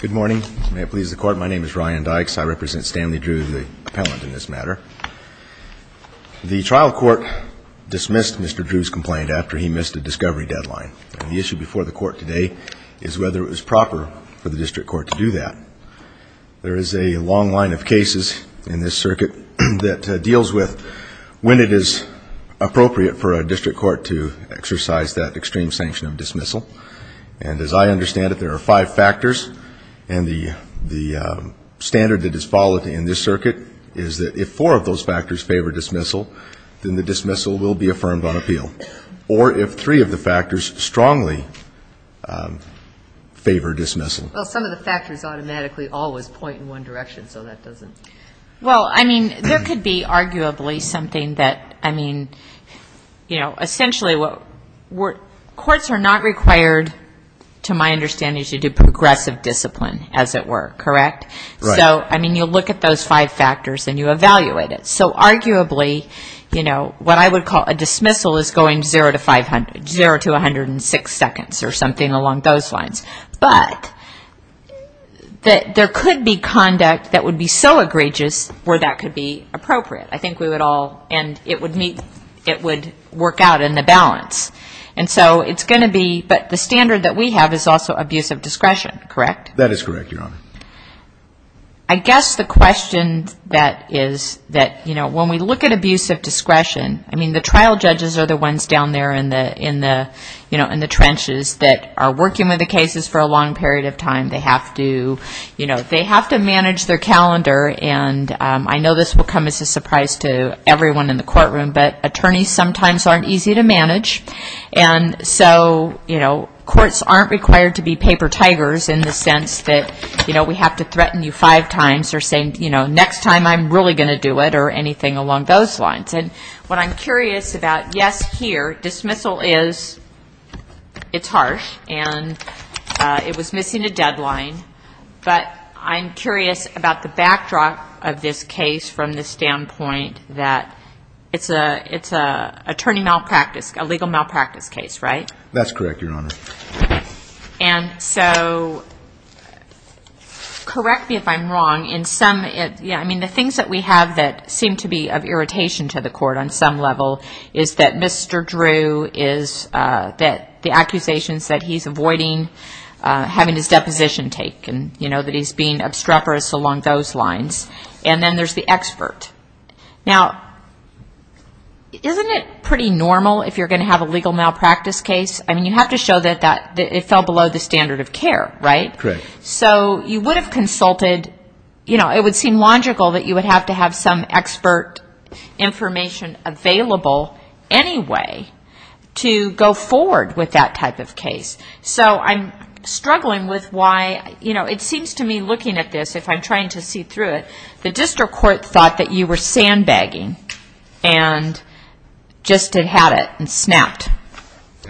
Good morning. May it please the Court, my name is Ryan Dykes. I represent Stanley Drew, the appellant in this matter. The trial court dismissed Mr. Drew's complaint after he missed a discovery deadline. And the issue before the Court today is whether it was proper for the district court to do that. There is a long line of cases in this circuit that deals with when it is appropriate for a district court to exercise that extreme sanction of dismissal. And as I understand it, there are five factors. And the standard that is followed in this circuit is that if four of those factors favor dismissal, then the dismissal will be affirmed on appeal. Or if three of the factors strongly favor dismissal. Well, some of the factors automatically always point in one direction, so that doesn't... Well, I mean, there could be arguably something that, I mean, you know, essentially what... Courts are not required, to my understanding, to do progressive discipline, as it were, correct? Right. So, I mean, you look at those five factors and you evaluate it. So arguably, you know, what I would call a dismissal is going zero to five hundred... zero to 106 seconds or something along those lines. But there could be conduct that would be so egregious where that could be appropriate. I think we would all... and it would meet... it would work out in the balance. And so it's going to be... but the standard that we have is also abuse of discretion, correct? That is correct, Your Honor. I guess the question that is... that, you know, when we look at abuse of discretion, I mean, the trial judges are the ones down there in the... you know, in the trenches that are working with the cases for a long period of time. They have to, you know, they have to manage their calendar. And I know this will come as a surprise to everyone in the courtroom, but attorneys sometimes aren't easy to manage. And so, you know, courts aren't required to be paper tigers in the sense that, you know, we have to threaten you five times or say, you know, next time I'm really going to do it or anything along those lines. And what I'm curious about, yes, here, dismissal is... it's harsh and it was missing a deadline. But I'm curious about the backdrop of this case from the standpoint that it's an attorney malpractice, a legal malpractice case, right? That's correct, Your Honor. And so correct me if I'm wrong. In some... yeah, I mean, the things that we have that seem to be of irritation to the court on some level is that Mr. Drew is... that the accusations that he's avoiding having his deposition taken, you know, that he's being obstreperous along those lines. And then there's the expert. Now, isn't it pretty normal if you're going to have a legal malpractice case? I mean, you have to show that it fell below the standard of care, right? Correct. So you would have consulted, you know, it would seem logical that you would have to have some expert information available anyway to go forward with that type of case. So I'm struggling with why, you know, it seems to me looking at this, if I'm trying to see through it, the district court thought that you were sandbagging and just had it and snapped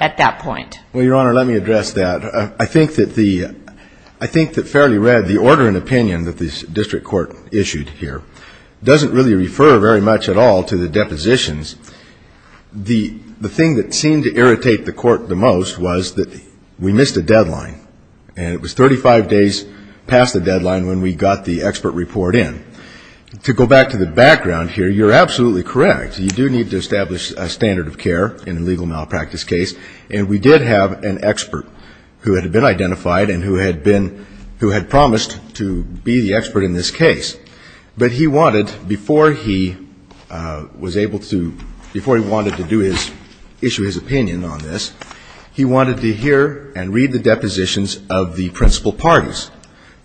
at that point. Well, Your Honor, let me address that. I think that fairly read, the order and opinion that the district court issued here doesn't really refer very much at all to the depositions. The thing that seemed to irritate the court the most was that we missed a deadline, and it was 35 days past the deadline when we got the expert report in. To go back to the background here, you're absolutely correct. You do need to establish a standard of care in a legal malpractice case, and we did have an expert who had been identified and who had been, who had promised to be the expert in this case. But he wanted, before he was able to, before he wanted to do his, issue his opinion on this, he wanted to hear and read the depositions of the principal parties.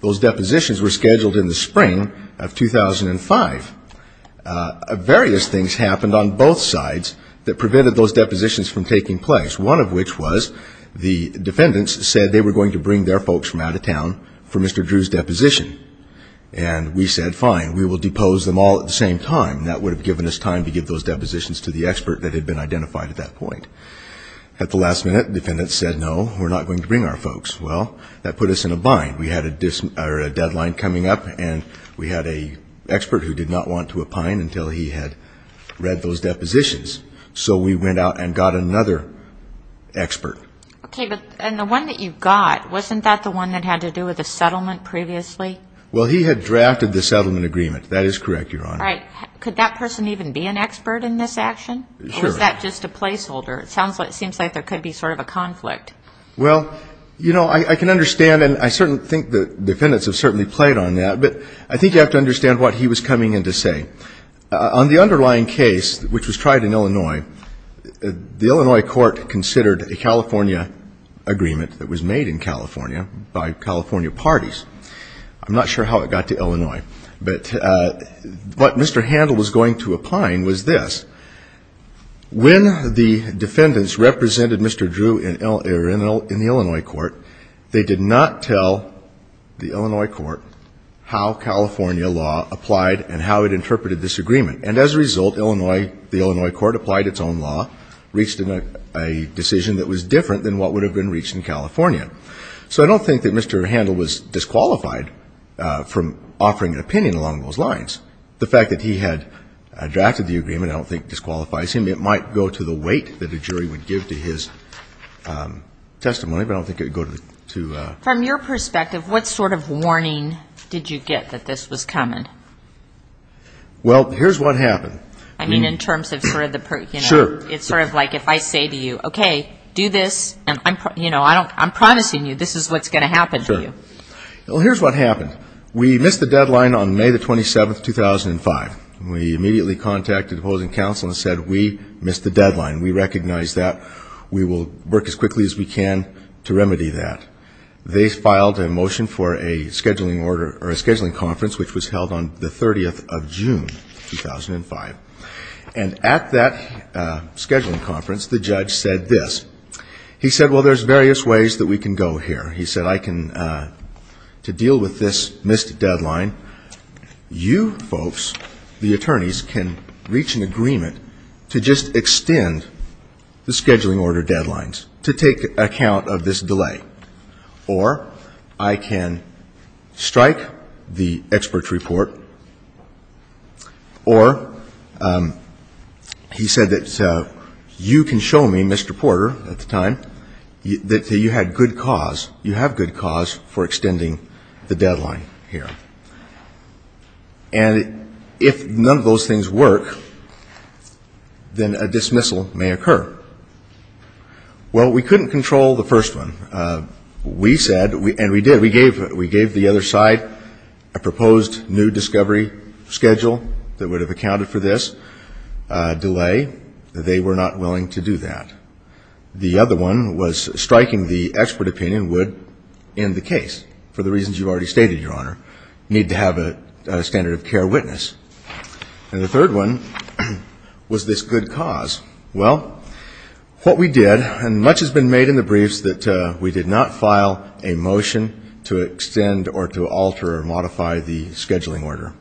Those depositions were scheduled in the spring of 2005. Various things happened on both sides that prevented those depositions from taking place, one of which was the defendants said they were going to bring their folks from out of town for Mr. Drew's deposition. And we said, fine, we will depose them all at the same time. And that would have given us time to give those depositions to the expert that had been identified at that point. At the last minute, the defendant said, no, we're not going to bring our folks. Well, that put us in a bind. We had a deadline coming up, and we had an expert who did not want to opine until he had read those depositions. So we went out and got another expert. Okay, but the one that you got, wasn't that the one that had to do with the settlement previously? Well, he had drafted the settlement agreement. That is correct, Your Honor. All right. Could that person even be an expert in this action? Sure. Or was that just a placeholder? It seems like there could be sort of a conflict. Well, you know, I can understand, and I certainly think the defendants have certainly played on that, but I think you have to understand what he was coming in to say. On the underlying case, which was tried in Illinois, the Illinois court considered a California agreement that was made in California by California parties. I'm not sure how it got to Illinois, but what Mr. Handel was going to opine was this. When the defendants represented Mr. Drew in the Illinois court, they did not tell the Illinois court how California law applied and how it interpreted this agreement. And as a result, the Illinois court applied its own law, reached a decision that was different than what would have been reached in California. So I don't think that Mr. Handel was disqualified from offering an opinion along those lines. The fact that he had drafted the agreement I don't think disqualifies him. It might go to the weight that a jury would give to his testimony, but I don't think it would go to the ---- From your perspective, what sort of warning did you get that this was coming? Well, here's what happened. I mean in terms of sort of the ---- Sure. It's sort of like if I say to you, okay, do this, and, you know, I'm promising you this is what's going to happen to you. Sure. Well, here's what happened. We missed the deadline on May the 27th, 2005. We immediately contacted opposing counsel and said we missed the deadline. We recognize that. We will work as quickly as we can to remedy that. They filed a motion for a scheduling order or a scheduling conference, which was held on the 30th of June, 2005. And at that scheduling conference, the judge said this. He said, well, there's various ways that we can go here. He said I can, to deal with this missed deadline, you folks, the attorneys, can reach an agreement to just extend the scheduling order deadlines to take account of this delay. Or I can strike the expert's report, or he said that you can show me, Mr. Porter, at the time, that you had good cause, you have good cause for extending the deadline here. And if none of those things work, then a dismissal may occur. Well, we couldn't control the first one. We said, and we did, we gave the other side a proposed new discovery schedule that would have accounted for this delay. They were not willing to do that. The other one was striking the expert opinion would end the case for the reasons you've already stated, Your Honor, need to have a standard of care witness. And the third one was this good cause. Well, what we did, and much has been made in the briefs that we did not file a motion to extend or to alter or modify the scheduling order.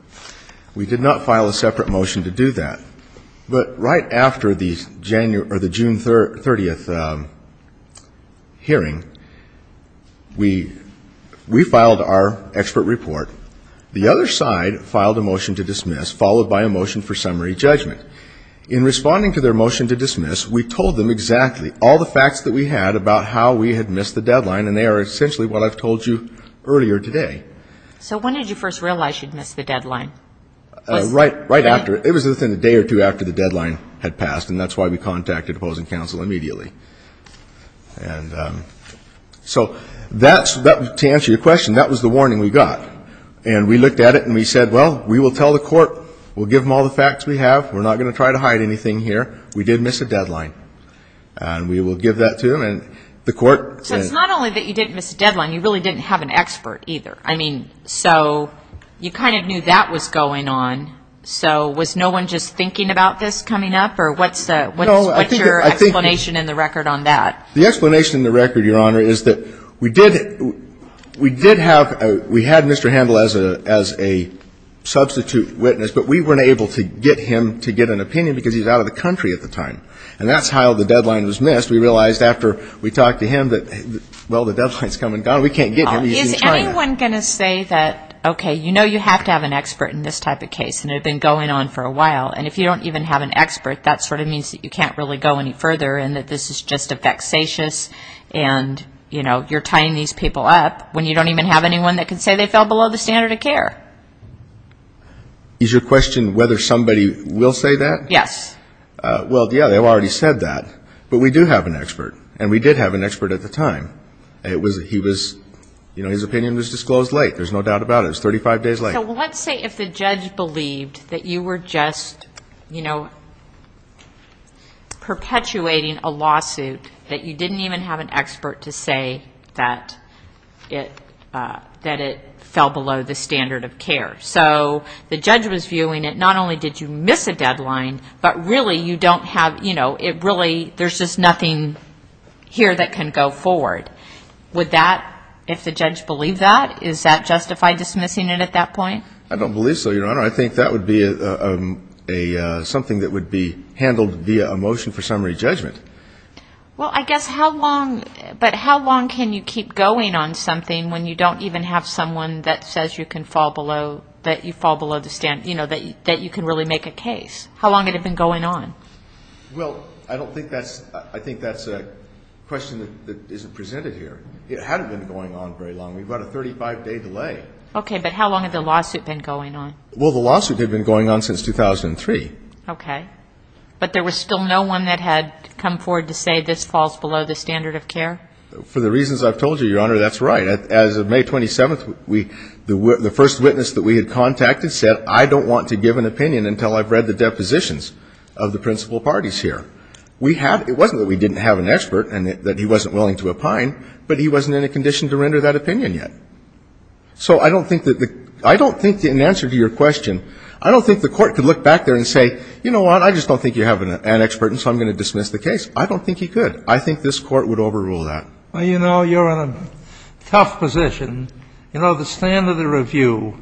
We did not file a separate motion to do that. But right after the June 30th hearing, we filed our expert report. The other side filed a motion to dismiss, followed by a motion for summary judgment. In responding to their motion to dismiss, we told them exactly all the facts that we had about how we had missed the deadline, and they are essentially what I've told you earlier today. So when did you first realize you'd missed the deadline? Right after. It was within a day or two after the deadline had passed, and that's why we contacted opposing counsel immediately. And so that's, to answer your question, that was the warning we got. And we looked at it and we said, well, we will tell the court. We'll give them all the facts we have. We're not going to try to hide anything here. We did miss a deadline. And we will give that to them, and the court. So it's not only that you didn't miss a deadline, you really didn't have an expert either. I mean, so you kind of knew that was going on. So was no one just thinking about this coming up, or what's your explanation in the record on that? The explanation in the record, Your Honor, is that we did have Mr. Handel as a substitute witness, but we weren't able to get him to get an opinion because he was out of the country at the time. And that's how the deadline was missed. We realized after we talked to him that, well, the deadline's come and gone. We can't get him. He's in China. Is anyone going to say that, okay, you know you have to have an expert in this type of case, and it had been going on for a while, and if you don't even have an expert, that sort of means that you can't really go any further, and that this is just a vexatious, and, you know, you're tying these people up when you don't even have anyone that can say they fell below the standard of care. Is your question whether somebody will say that? Yes. Well, yeah, they've already said that. But we do have an expert, and we did have an expert at the time. He was, you know, his opinion was disclosed late. There's no doubt about it. It was 35 days late. So let's say if the judge believed that you were just, you know, perpetuating a lawsuit that you didn't even have an expert to say that it fell below the standard of care. So the judge was viewing it, not only did you miss a deadline, but really you don't have, you know, it really there's just nothing here that can go forward. Would that, if the judge believed that, is that justified dismissing it at that point? I don't believe so, Your Honor. I think that would be something that would be handled via a motion for summary judgment. Well, I guess how long, but how long can you keep going on something when you don't even have someone that says you can fall below, that you fall below the standard, you know, that you can really make a case? How long would it have been going on? Well, I don't think that's, I think that's a question that isn't presented here. It hadn't been going on very long. We've got a 35-day delay. Okay, but how long had the lawsuit been going on? Well, the lawsuit had been going on since 2003. Okay. But there was still no one that had come forward to say this falls below the standard of care? For the reasons I've told you, Your Honor, that's right. As of May 27th, we, the first witness that we had contacted said, I don't want to give an opinion until I've read the depositions of the principal parties here. We have, it wasn't that we didn't have an expert and that he wasn't willing to opine, but he wasn't in a condition to render that opinion yet. So I don't think that the, I don't think in answer to your question, I don't think the court could look back there and say, you know what, I just don't think you have an expert and so I'm going to dismiss the case. I don't think he could. I think this court would overrule that. Well, you know, you're in a tough position. You know, the standard of review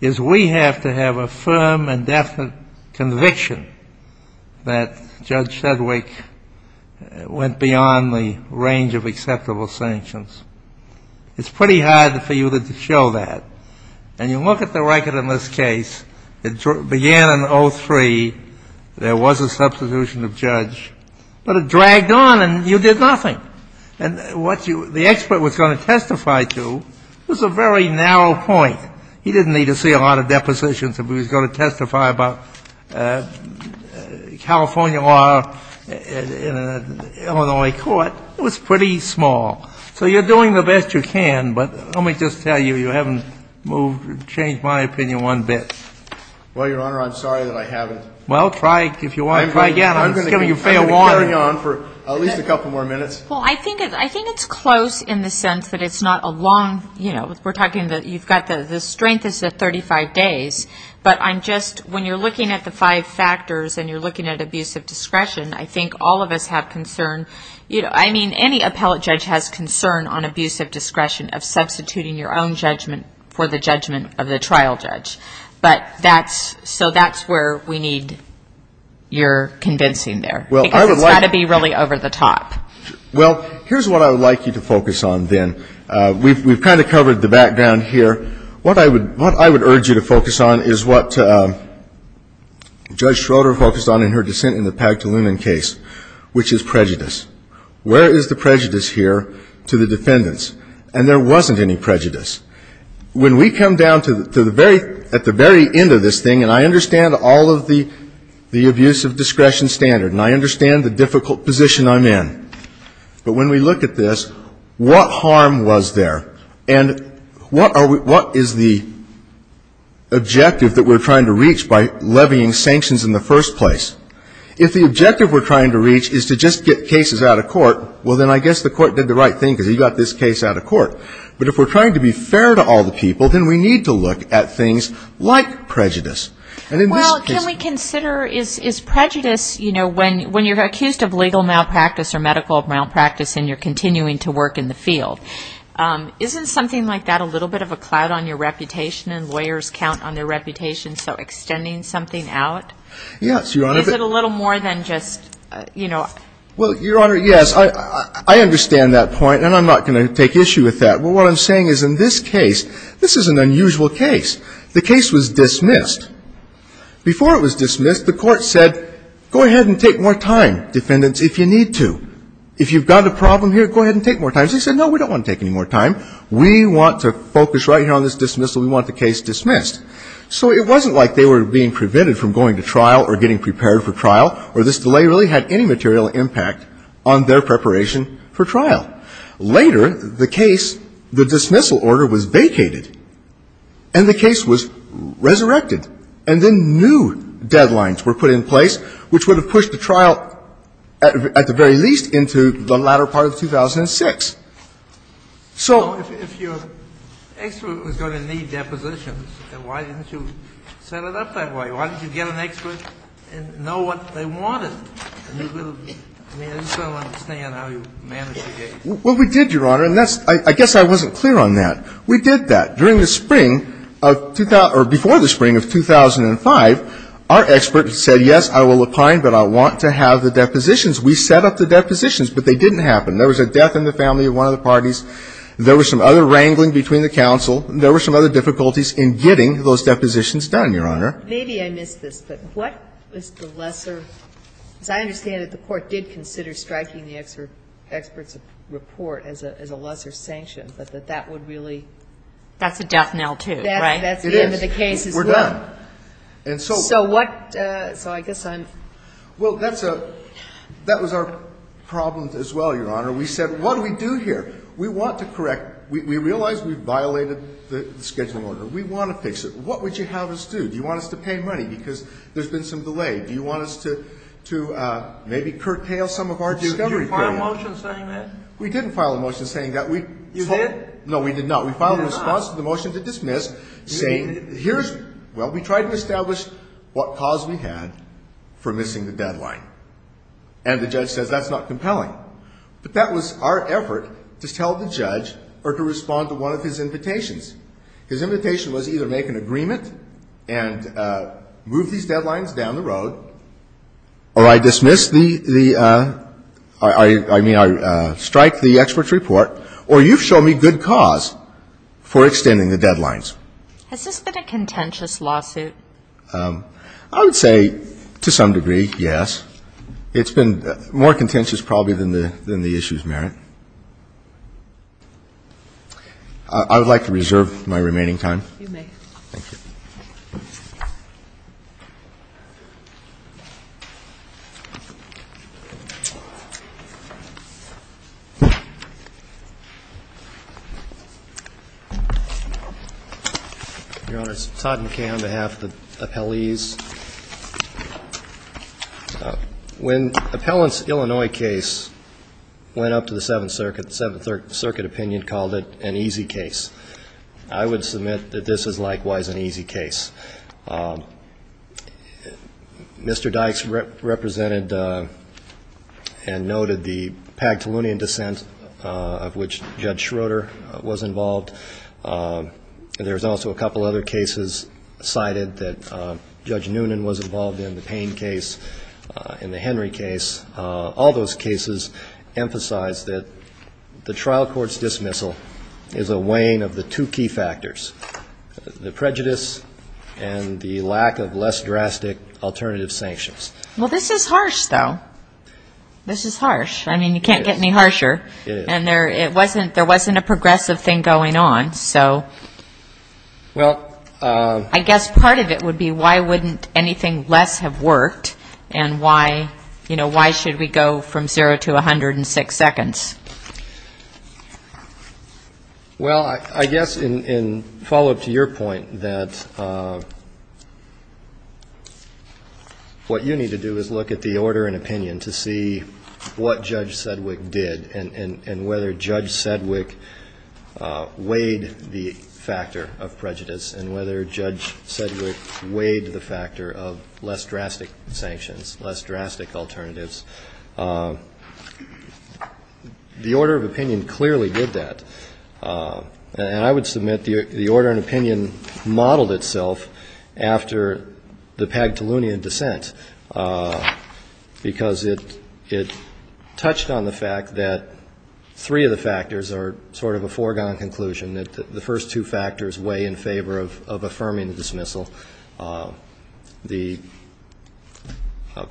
is we have to have a firm and definite conviction that Judge Sedgwick went beyond the range of acceptable sanctions. It's pretty hard for you to show that. And you look at the record in this case, it began in 03, there was a substitution of judge, but it dragged on and you did nothing. And what the expert was going to testify to was a very narrow point. He didn't need to see a lot of depositions if he was going to testify about California law in an Illinois court. It was pretty small. So you're doing the best you can, but let me just tell you, you haven't moved, changed my opinion one bit. Well, Your Honor, I'm sorry that I haven't. Well, try, if you want to try again. I'm going to carry on for at least a couple more minutes. Well, I think it's close in the sense that it's not a long, you know, we're talking that you've got the strength is 35 days, but I'm just, when you're looking at the five factors and you're looking at abuse of discretion, I think all of us have concern. I mean, any appellate judge has concern on abuse of discretion of substituting your own judgment for the judgment of the trial judge. But that's, so that's where we need your convincing there. Because it's got to be really over the top. Well, here's what I would like you to focus on then. We've kind of covered the background here. What I would urge you to focus on is what Judge Schroeder focused on in her dissent in the Pag-Tulumen case, which is prejudice. Where is the prejudice here to the defendants? And there wasn't any prejudice. When we come down to the very, at the very end of this thing, and I understand all of the abuse of discretion standard, and I understand the difficult position I'm in. But when we look at this, what harm was there? And what are we, what is the objective that we're trying to reach by levying sanctions in the first place? If the objective we're trying to reach is to just get cases out of court, well, then I guess the court did the right thing, because he got this case out of court. But if we're trying to be fair to all the people, then we need to look at things like prejudice. And in this case. Well, can we consider, is prejudice, you know, when you're accused of legal malpractice or medical malpractice and you're continuing to work in the field, isn't something like that a little bit of a cloud on your reputation and lawyers count on their reputation, so extending something out? Yes, Your Honor. Is it a little more than just, you know. Well, Your Honor, yes. I understand that point, and I'm not going to take issue with that. But what I'm saying is in this case, this is an unusual case. The case was dismissed. Before it was dismissed, the court said, go ahead and take more time, defendants, if you need to. If you've got a problem here, go ahead and take more time. They said, no, we don't want to take any more time. We want to focus right here on this dismissal. We want the case dismissed. So it wasn't like they were being prevented from going to trial or getting prepared for trial or this delay really had any material impact on their preparation for trial. Later, the case, the dismissal order was vacated, and the case was resurrected. And then new deadlines were put in place, which would have pushed the trial at the very least into the latter part of 2006. So if your expert was going to need depositions, then why didn't you set it up that way? Why didn't you get an expert and know what they wanted? I mean, I just don't understand how you managed the case. Well, we did, Your Honor, and I guess I wasn't clear on that. We did that. During the spring of, or before the spring of 2005, our expert said, yes, I will opine, but I want to have the depositions. We set up the depositions, but they didn't happen. There was a death in the family of one of the parties. There was some other wrangling between the counsel. There were some other difficulties in getting those depositions done, Your Honor. Maybe I missed this, but what was the lesser, because I understand that the Court did consider striking the expert's report as a lesser sanction, but that that would really. That's a death knell, too, right? That's the end of the case as well. It is. We're done. So what, so I guess I'm. Well, that was our problem as well, Your Honor. We said, what do we do here? We want to correct. We realize we violated the scheduling order. We want to fix it. What would you have us do? Do you want us to pay money because there's been some delay? Do you want us to maybe curtail some of our discovery? Did you file a motion saying that? We didn't file a motion saying that. You did? No, we did not. We filed a response to the motion to dismiss saying, here's, well, we tried to establish what cause we had for missing the deadline. And the judge says that's not compelling. But that was our effort to tell the judge or to respond to one of his invitations. His invitation was either make an agreement and move these deadlines down the road or I dismiss the, the, I mean, I strike the expert's report or you show me good cause for extending the deadlines. Has this been a contentious lawsuit? I would say to some degree, yes. It's been more contentious probably than the issues merit. I would like to reserve my remaining time. You may. Thank you. Your Honor, it's Todd McCann on behalf of the appellees. When appellant's Illinois case went up to the Seventh Circuit, the Seventh Circuit opinion called it an easy case. I would submit that this is likewise an easy case. Mr. Dykes represented and noted the Pag-Tulunian dissent of which Judge Schroeder was involved. And there's also a couple other cases cited that Judge Noonan was involved in, the Payne case and the Henry case. All those cases emphasize that the trial court's dismissal is a weighing of the two key factors, the prejudice and the lack of less drastic alternative sanctions. Well, this is harsh, though. This is harsh. I mean, you can't get any harsher. It is. And there wasn't a progressive thing going on. So I guess part of it would be why wouldn't anything less have worked and why, you know, why should we go from zero to 106 seconds? Well, I guess in follow-up to your point that what you need to do is look at the order and opinion to see what Judge Sedgwick did and whether Judge Sedgwick weighed the factor of prejudice and whether Judge Sedgwick weighed the factor of less drastic sanctions, less drastic alternatives. The order of opinion clearly did that. And I would submit the order and opinion modeled itself after the Pag-Tolunian dissent, because it touched on the fact that three of the factors are sort of a foregone conclusion, that the first two factors weigh in favor of affirming the dismissal. The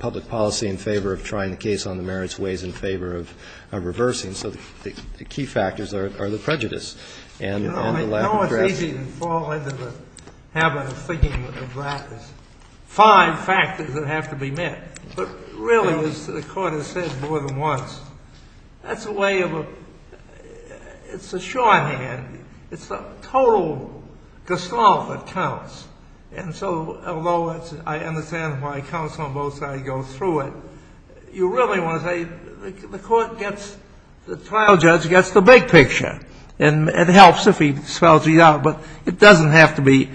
public policy in favor of trying the case on the merits weighs in favor of reversing. So the key factors are the prejudice and the lack of address. You know, it's easy to fall into the habit of thinking of that as five factors that have to be met. But really, as the Court has said more than once, that's a way of a — it's a shorthand. It's the total gestalt that counts. And so, although I understand why counsel on both sides go through it, you really want to say the Court gets — the trial judge gets the big picture. And it helps if he spells it out. But it doesn't have to be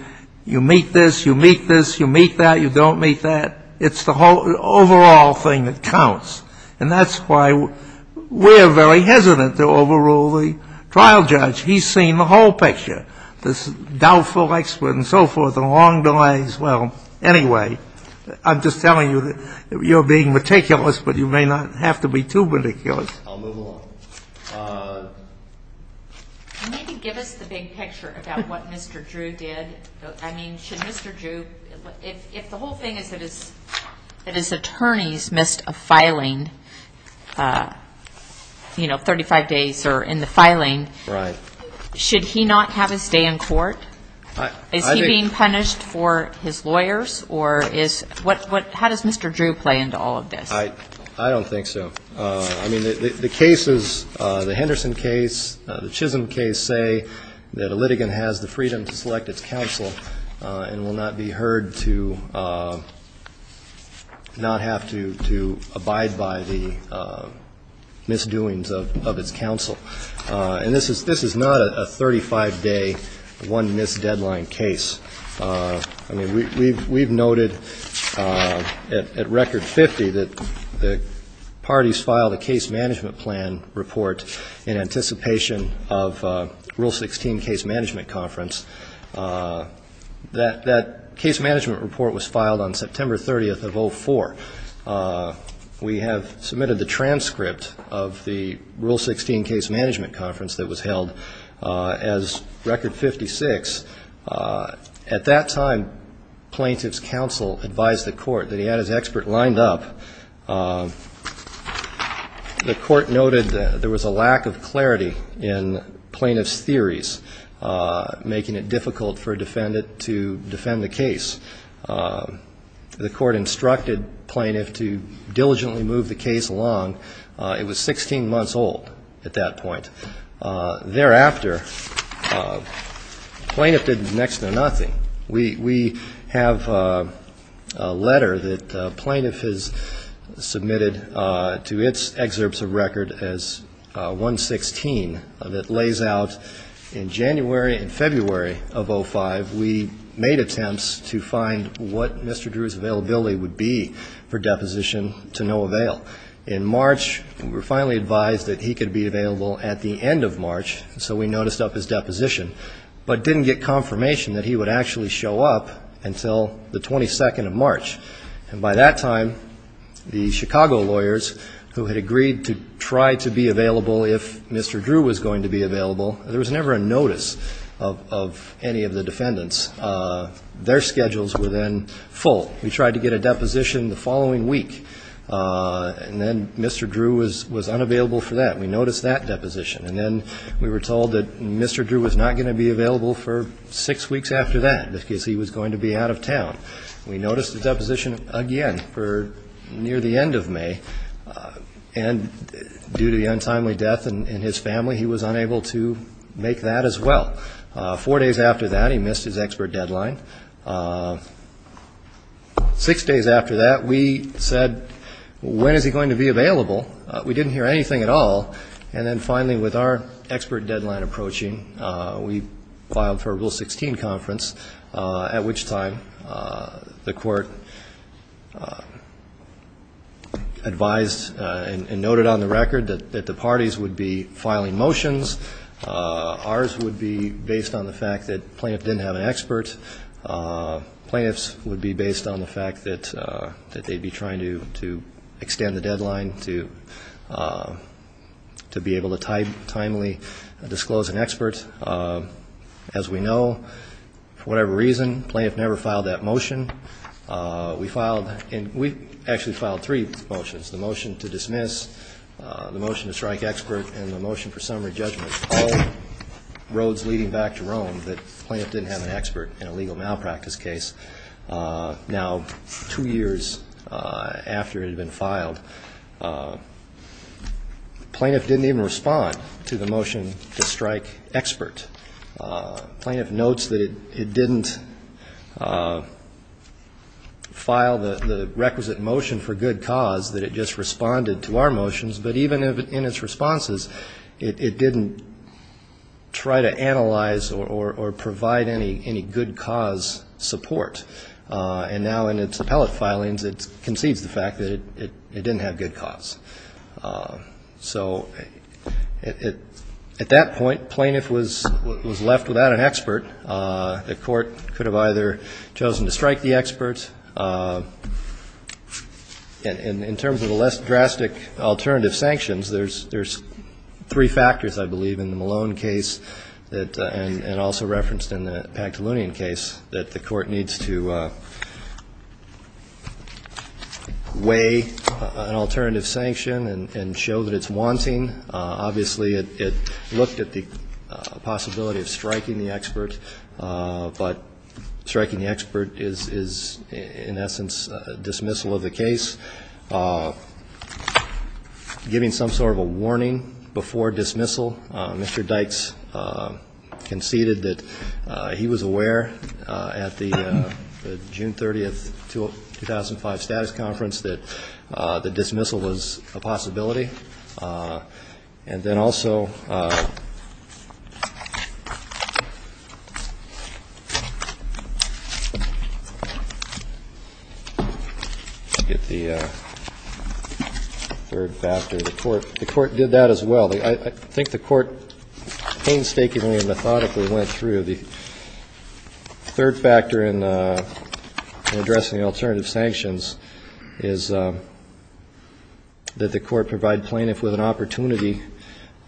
you meet this, you meet this, you meet that, you don't meet that. It's the overall thing that counts. And that's why we're very hesitant to overrule the trial judge. He's seen the whole picture, this doubtful expert and so forth, the long delays. Well, anyway, I'm just telling you that you're being meticulous, but you may not have to be too meticulous. I'll move along. You need to give us the big picture about what Mr. Drew did. I mean, should Mr. Drew — if the whole thing is that his attorneys missed a filing, you know, 35 days or in the filing. Right. Should he not have his stay in court? Is he being punished for his lawyers? Or is — how does Mr. Drew play into all of this? I don't think so. I mean, the cases, the Henderson case, the Chisholm case, say that a litigant has the freedom to select its counsel and will not be heard to not have to abide by the misdoings of its counsel. And this is not a 35-day, one-miss-deadline case. I mean, we've noted at Record 50 that the parties filed a case management plan report in anticipation of Rule 16 Case Management Conference. That case management report was filed on September 30th of 2004. We have submitted the transcript of the Rule 16 Case Management Conference that was held as Record 56. At that time, plaintiff's counsel advised the court that he had his expert lined up. The court noted there was a lack of clarity in plaintiff's theories, making it difficult for a defendant to defend the case. The court instructed plaintiff to diligently move the case along. It was 16 months old at that point. Thereafter, plaintiff did next to nothing. We have a letter that plaintiff has submitted to its excerpts of record as 116 that lays out in January and February of 05, we made attempts to find what Mr. Drew's availability would be for deposition to no avail. In March, we were finally advised that he could be available at the end of March, so we noticed up his deposition, but didn't get confirmation that he would actually show up until the 22nd of March. And by that time, the Chicago lawyers who had agreed to try to be available if Mr. Drew was going to be available, there was never a notice of any of the defendants. Their schedules were then full. We tried to get a deposition the following week, and then Mr. Drew was unavailable for that. We noticed that deposition, and then we were told that Mr. Drew was not going to be available for six weeks after that because he was going to be out of town. We noticed the deposition again for near the end of May, and due to the untimely death in his family, he was unable to make that as well. Four days after that, he missed his expert deadline. Six days after that, we said, when is he going to be available? We didn't hear anything at all. And then finally, with our expert deadline approaching, we filed for a Rule 16 conference, at which time the court advised and noted on the record that the parties would be filing motions. Ours would be based on the fact that plaintiff didn't have an expert. Plaintiffs would be based on the fact that they'd be trying to extend the deadline to be able to timely disclose an expert. As we know, for whatever reason, plaintiff never filed that motion. We filed, and we actually filed three motions, the motion to dismiss, the motion to strike expert, and the motion for summary judgment, all roads leading back to Rome that plaintiff didn't have an expert in a legal malpractice case. Now, two years after it had been filed, plaintiff didn't even respond to the motion to strike expert. Plaintiff notes that it didn't file the requisite motion for good cause, that it just responded to our motions, but even in its responses, it didn't try to analyze or provide any good cause support. And now in its appellate filings, it concedes the fact that it didn't have good cause. So at that point, plaintiff was left without an expert. The court could have either chosen to strike the expert. In terms of the less drastic alternative sanctions, there's three factors, I believe, in the Malone case and also referenced in the Pantelunian case, that the court needs to weigh an alternative sanction. And show that it's wanting, obviously, it looked at the possibility of striking the expert, but striking the expert is, in essence, dismissal of the case, giving some sort of a warning before dismissal. Mr. Dykes conceded that he was aware at the June 30, 2005, status conference that the dismissal was a possibility. And then also, I forget the third factor, the court did that as well. I think the court painstakingly and methodically went through the third factor in addressing alternative sanctions, is that the court provide plaintiff with an opportunity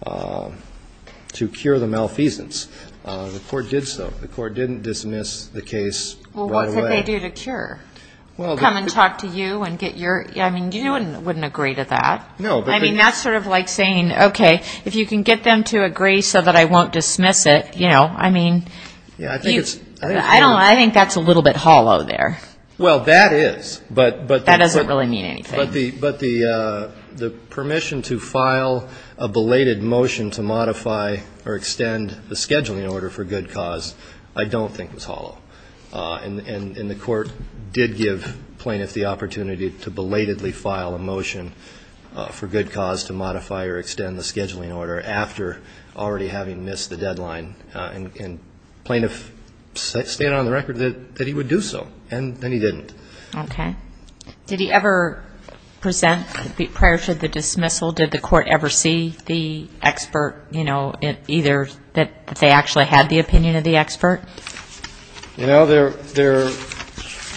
to cure the malfeasance. The court did so. The court didn't dismiss the case right away. Well, what could they do to cure? Come and talk to you and get your, I mean, you wouldn't agree to that. I mean, that's sort of like saying, okay, if you can get them to agree so that I won't dismiss it, you know. I mean, I think that's a little bit hollow there. Well, that is, but the permission to file a belated motion to modify or extend the scheduling order for good cause, I don't think was hollow. And the court did give plaintiff the opportunity to belatedly file a motion for good cause to modify or extend the scheduling order after already having missed the deadline. And plaintiff stated on the record that he would do so, and then he didn't. Okay. Did he ever present prior to the dismissal, did the court ever see the expert, you know, either that they actually had the opinion of the expert? You know, there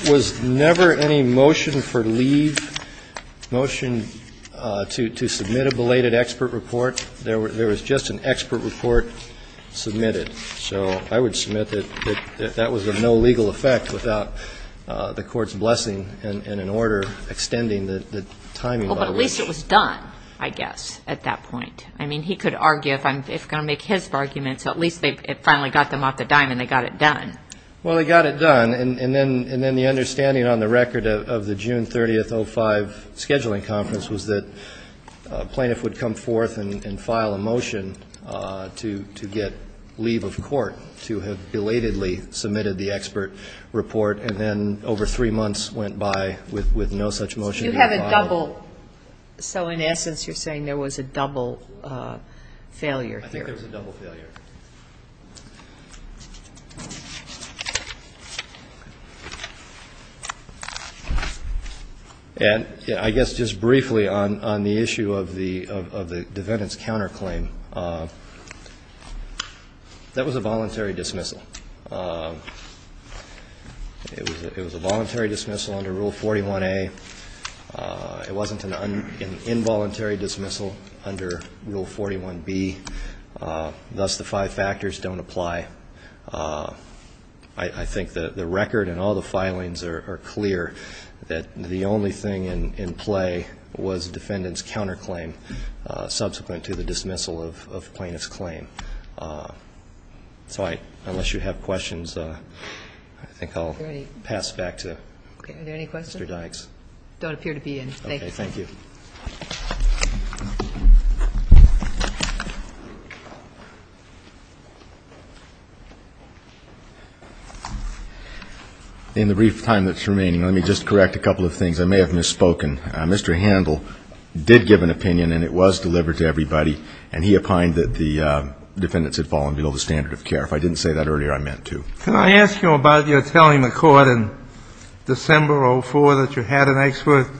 was never any motion for leave, motion to submit a belated expert report. There was just an expert report submitted. So I would submit that that was of no legal effect without the court's blessing and an order extending the timing. Well, but at least it was done, I guess, at that point. I mean, he could argue, if I'm going to make his argument, so at least it finally got them off the dime and they got it done. Well, they got it done, and then the understanding on the record of the June 30, 2005, scheduling conference was that plaintiff would come forth and file a motion to get leave of court, to have belatedly submitted the expert report, and then over three months went by with no such motion being filed. But you have a double, so in essence you're saying there was a double failure here. I think there was a double failure. And I guess just briefly on the issue of the defendant's counterclaim, that was a voluntary dismissal. It was a voluntary dismissal under Rule 41A. It wasn't an involuntary dismissal under Rule 41B. Thus the five factors don't apply. I think the record and all the filings are clear that the only thing in play was the defendant's counterclaim subsequent to the dismissal of the plaintiff's claim. So I, unless you have questions, I think I'll pass back to Mr. Dykes. Are there any questions? Don't appear to be any. Okay, thank you. In the brief time that's remaining, let me just correct a couple of things. I may have misspoken. Mr. Handel did give an opinion, and it was delivered to everybody, and he opined that the defendants had fallen below the standard of care. If I didn't say that earlier, I meant to. Can I ask you about your telling the court in December of 2004 that you had an expert?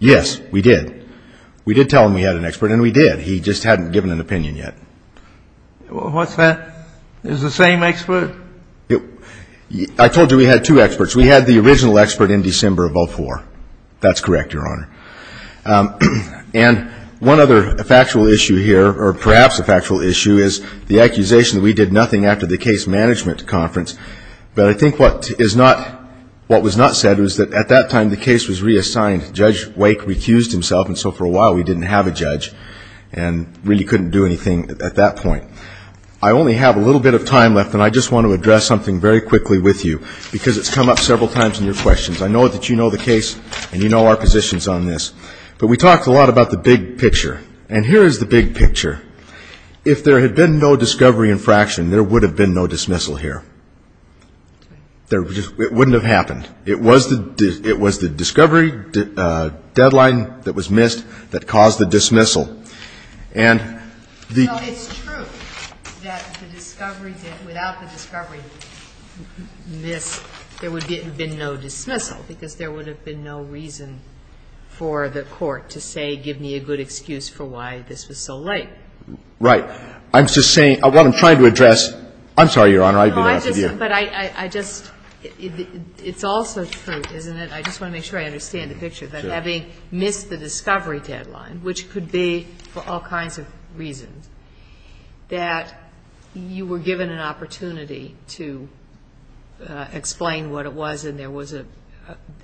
Yes, we did. We did tell him we had an expert, and we did. He just hadn't given an opinion yet. What's that? It was the same expert? I told you we had two experts. We had the original expert in December of 2004. That's correct, Your Honor. And one other factual issue here, or perhaps a factual issue, is the accusation that we did nothing after the case management conference. But I think what was not said was that at that time the case was reassigned. Judge Wake recused himself, and so for a while we didn't have a judge and really couldn't do anything at that point. I only have a little bit of time left, and I just want to address something very quickly with you, because it's come up several times in your questions. I know that you know the case, and you know our positions on this. But we talked a lot about the big picture, and here is the big picture. If there had been no discovery infraction, there would have been no dismissal here. It wouldn't have happened. It was the discovery deadline that was missed that caused the dismissal. Well, it's true that the discovery, without the discovery miss, there would have been no dismissal, because there would have been no reason for the court to say give me a good excuse for why this was so late. Right. I'm just saying, what I'm trying to address, I'm sorry, Your Honor, I didn't mean to ask of you. No, I just, but I just, it's also true, isn't it? I just want to make sure I understand the picture, that having missed the discovery deadline, which could be for all kinds of reasons, that you were given an opportunity to explain what it was, and there was a,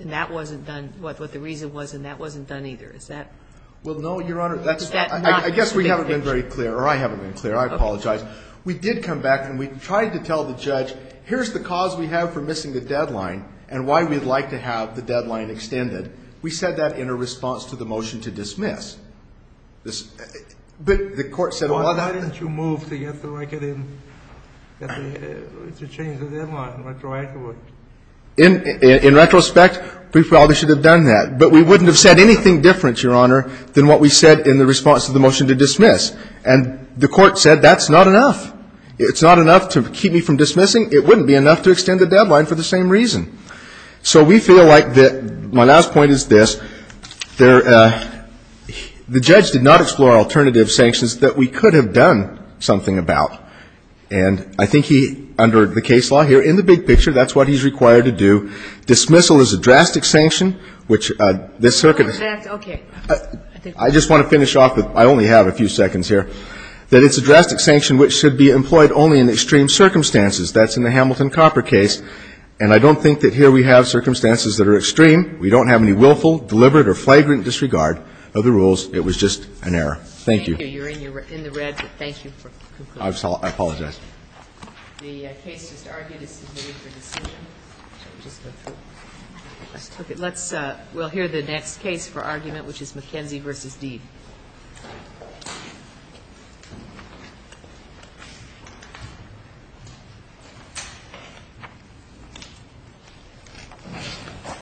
and that wasn't done, what the reason was, and that wasn't done either. Is that? Well, no, Your Honor. I guess we haven't been very clear, or I haven't been clear. I apologize. We did come back and we tried to tell the judge, here's the cause we have for missing the deadline, and why we'd like to have the deadline extended. We said that in a response to the motion to dismiss. But the court said, well, that's. Why didn't you move to get the record in, to change the deadline retroactively? In retrospect, we probably should have done that. But we wouldn't have said anything different, Your Honor, than what we said in the response to the motion to dismiss. And the court said, that's not enough. It's not enough to keep me from dismissing. It wouldn't be enough to extend the deadline for the same reason. So we feel like the, my last point is this. There, the judge did not explore alternative sanctions that we could have done something about. And I think he, under the case law here, in the big picture, that's what he's required to do. Dismissal is a drastic sanction, which this circuit. Okay. I just want to finish off with, I only have a few seconds here, that it's a drastic sanction which should be employed only in extreme circumstances. That's in the Hamilton-Copper case. And I don't think that here we have circumstances that are extreme. We don't have any willful, deliberate, or flagrant disregard of the rules. It was just an error. Thank you. Thank you. You're in the red, but thank you for concluding. I apologize. The case just argued is submitted for decision. Let's, we'll hear the next case for argument, which is McKenzie v. Deed.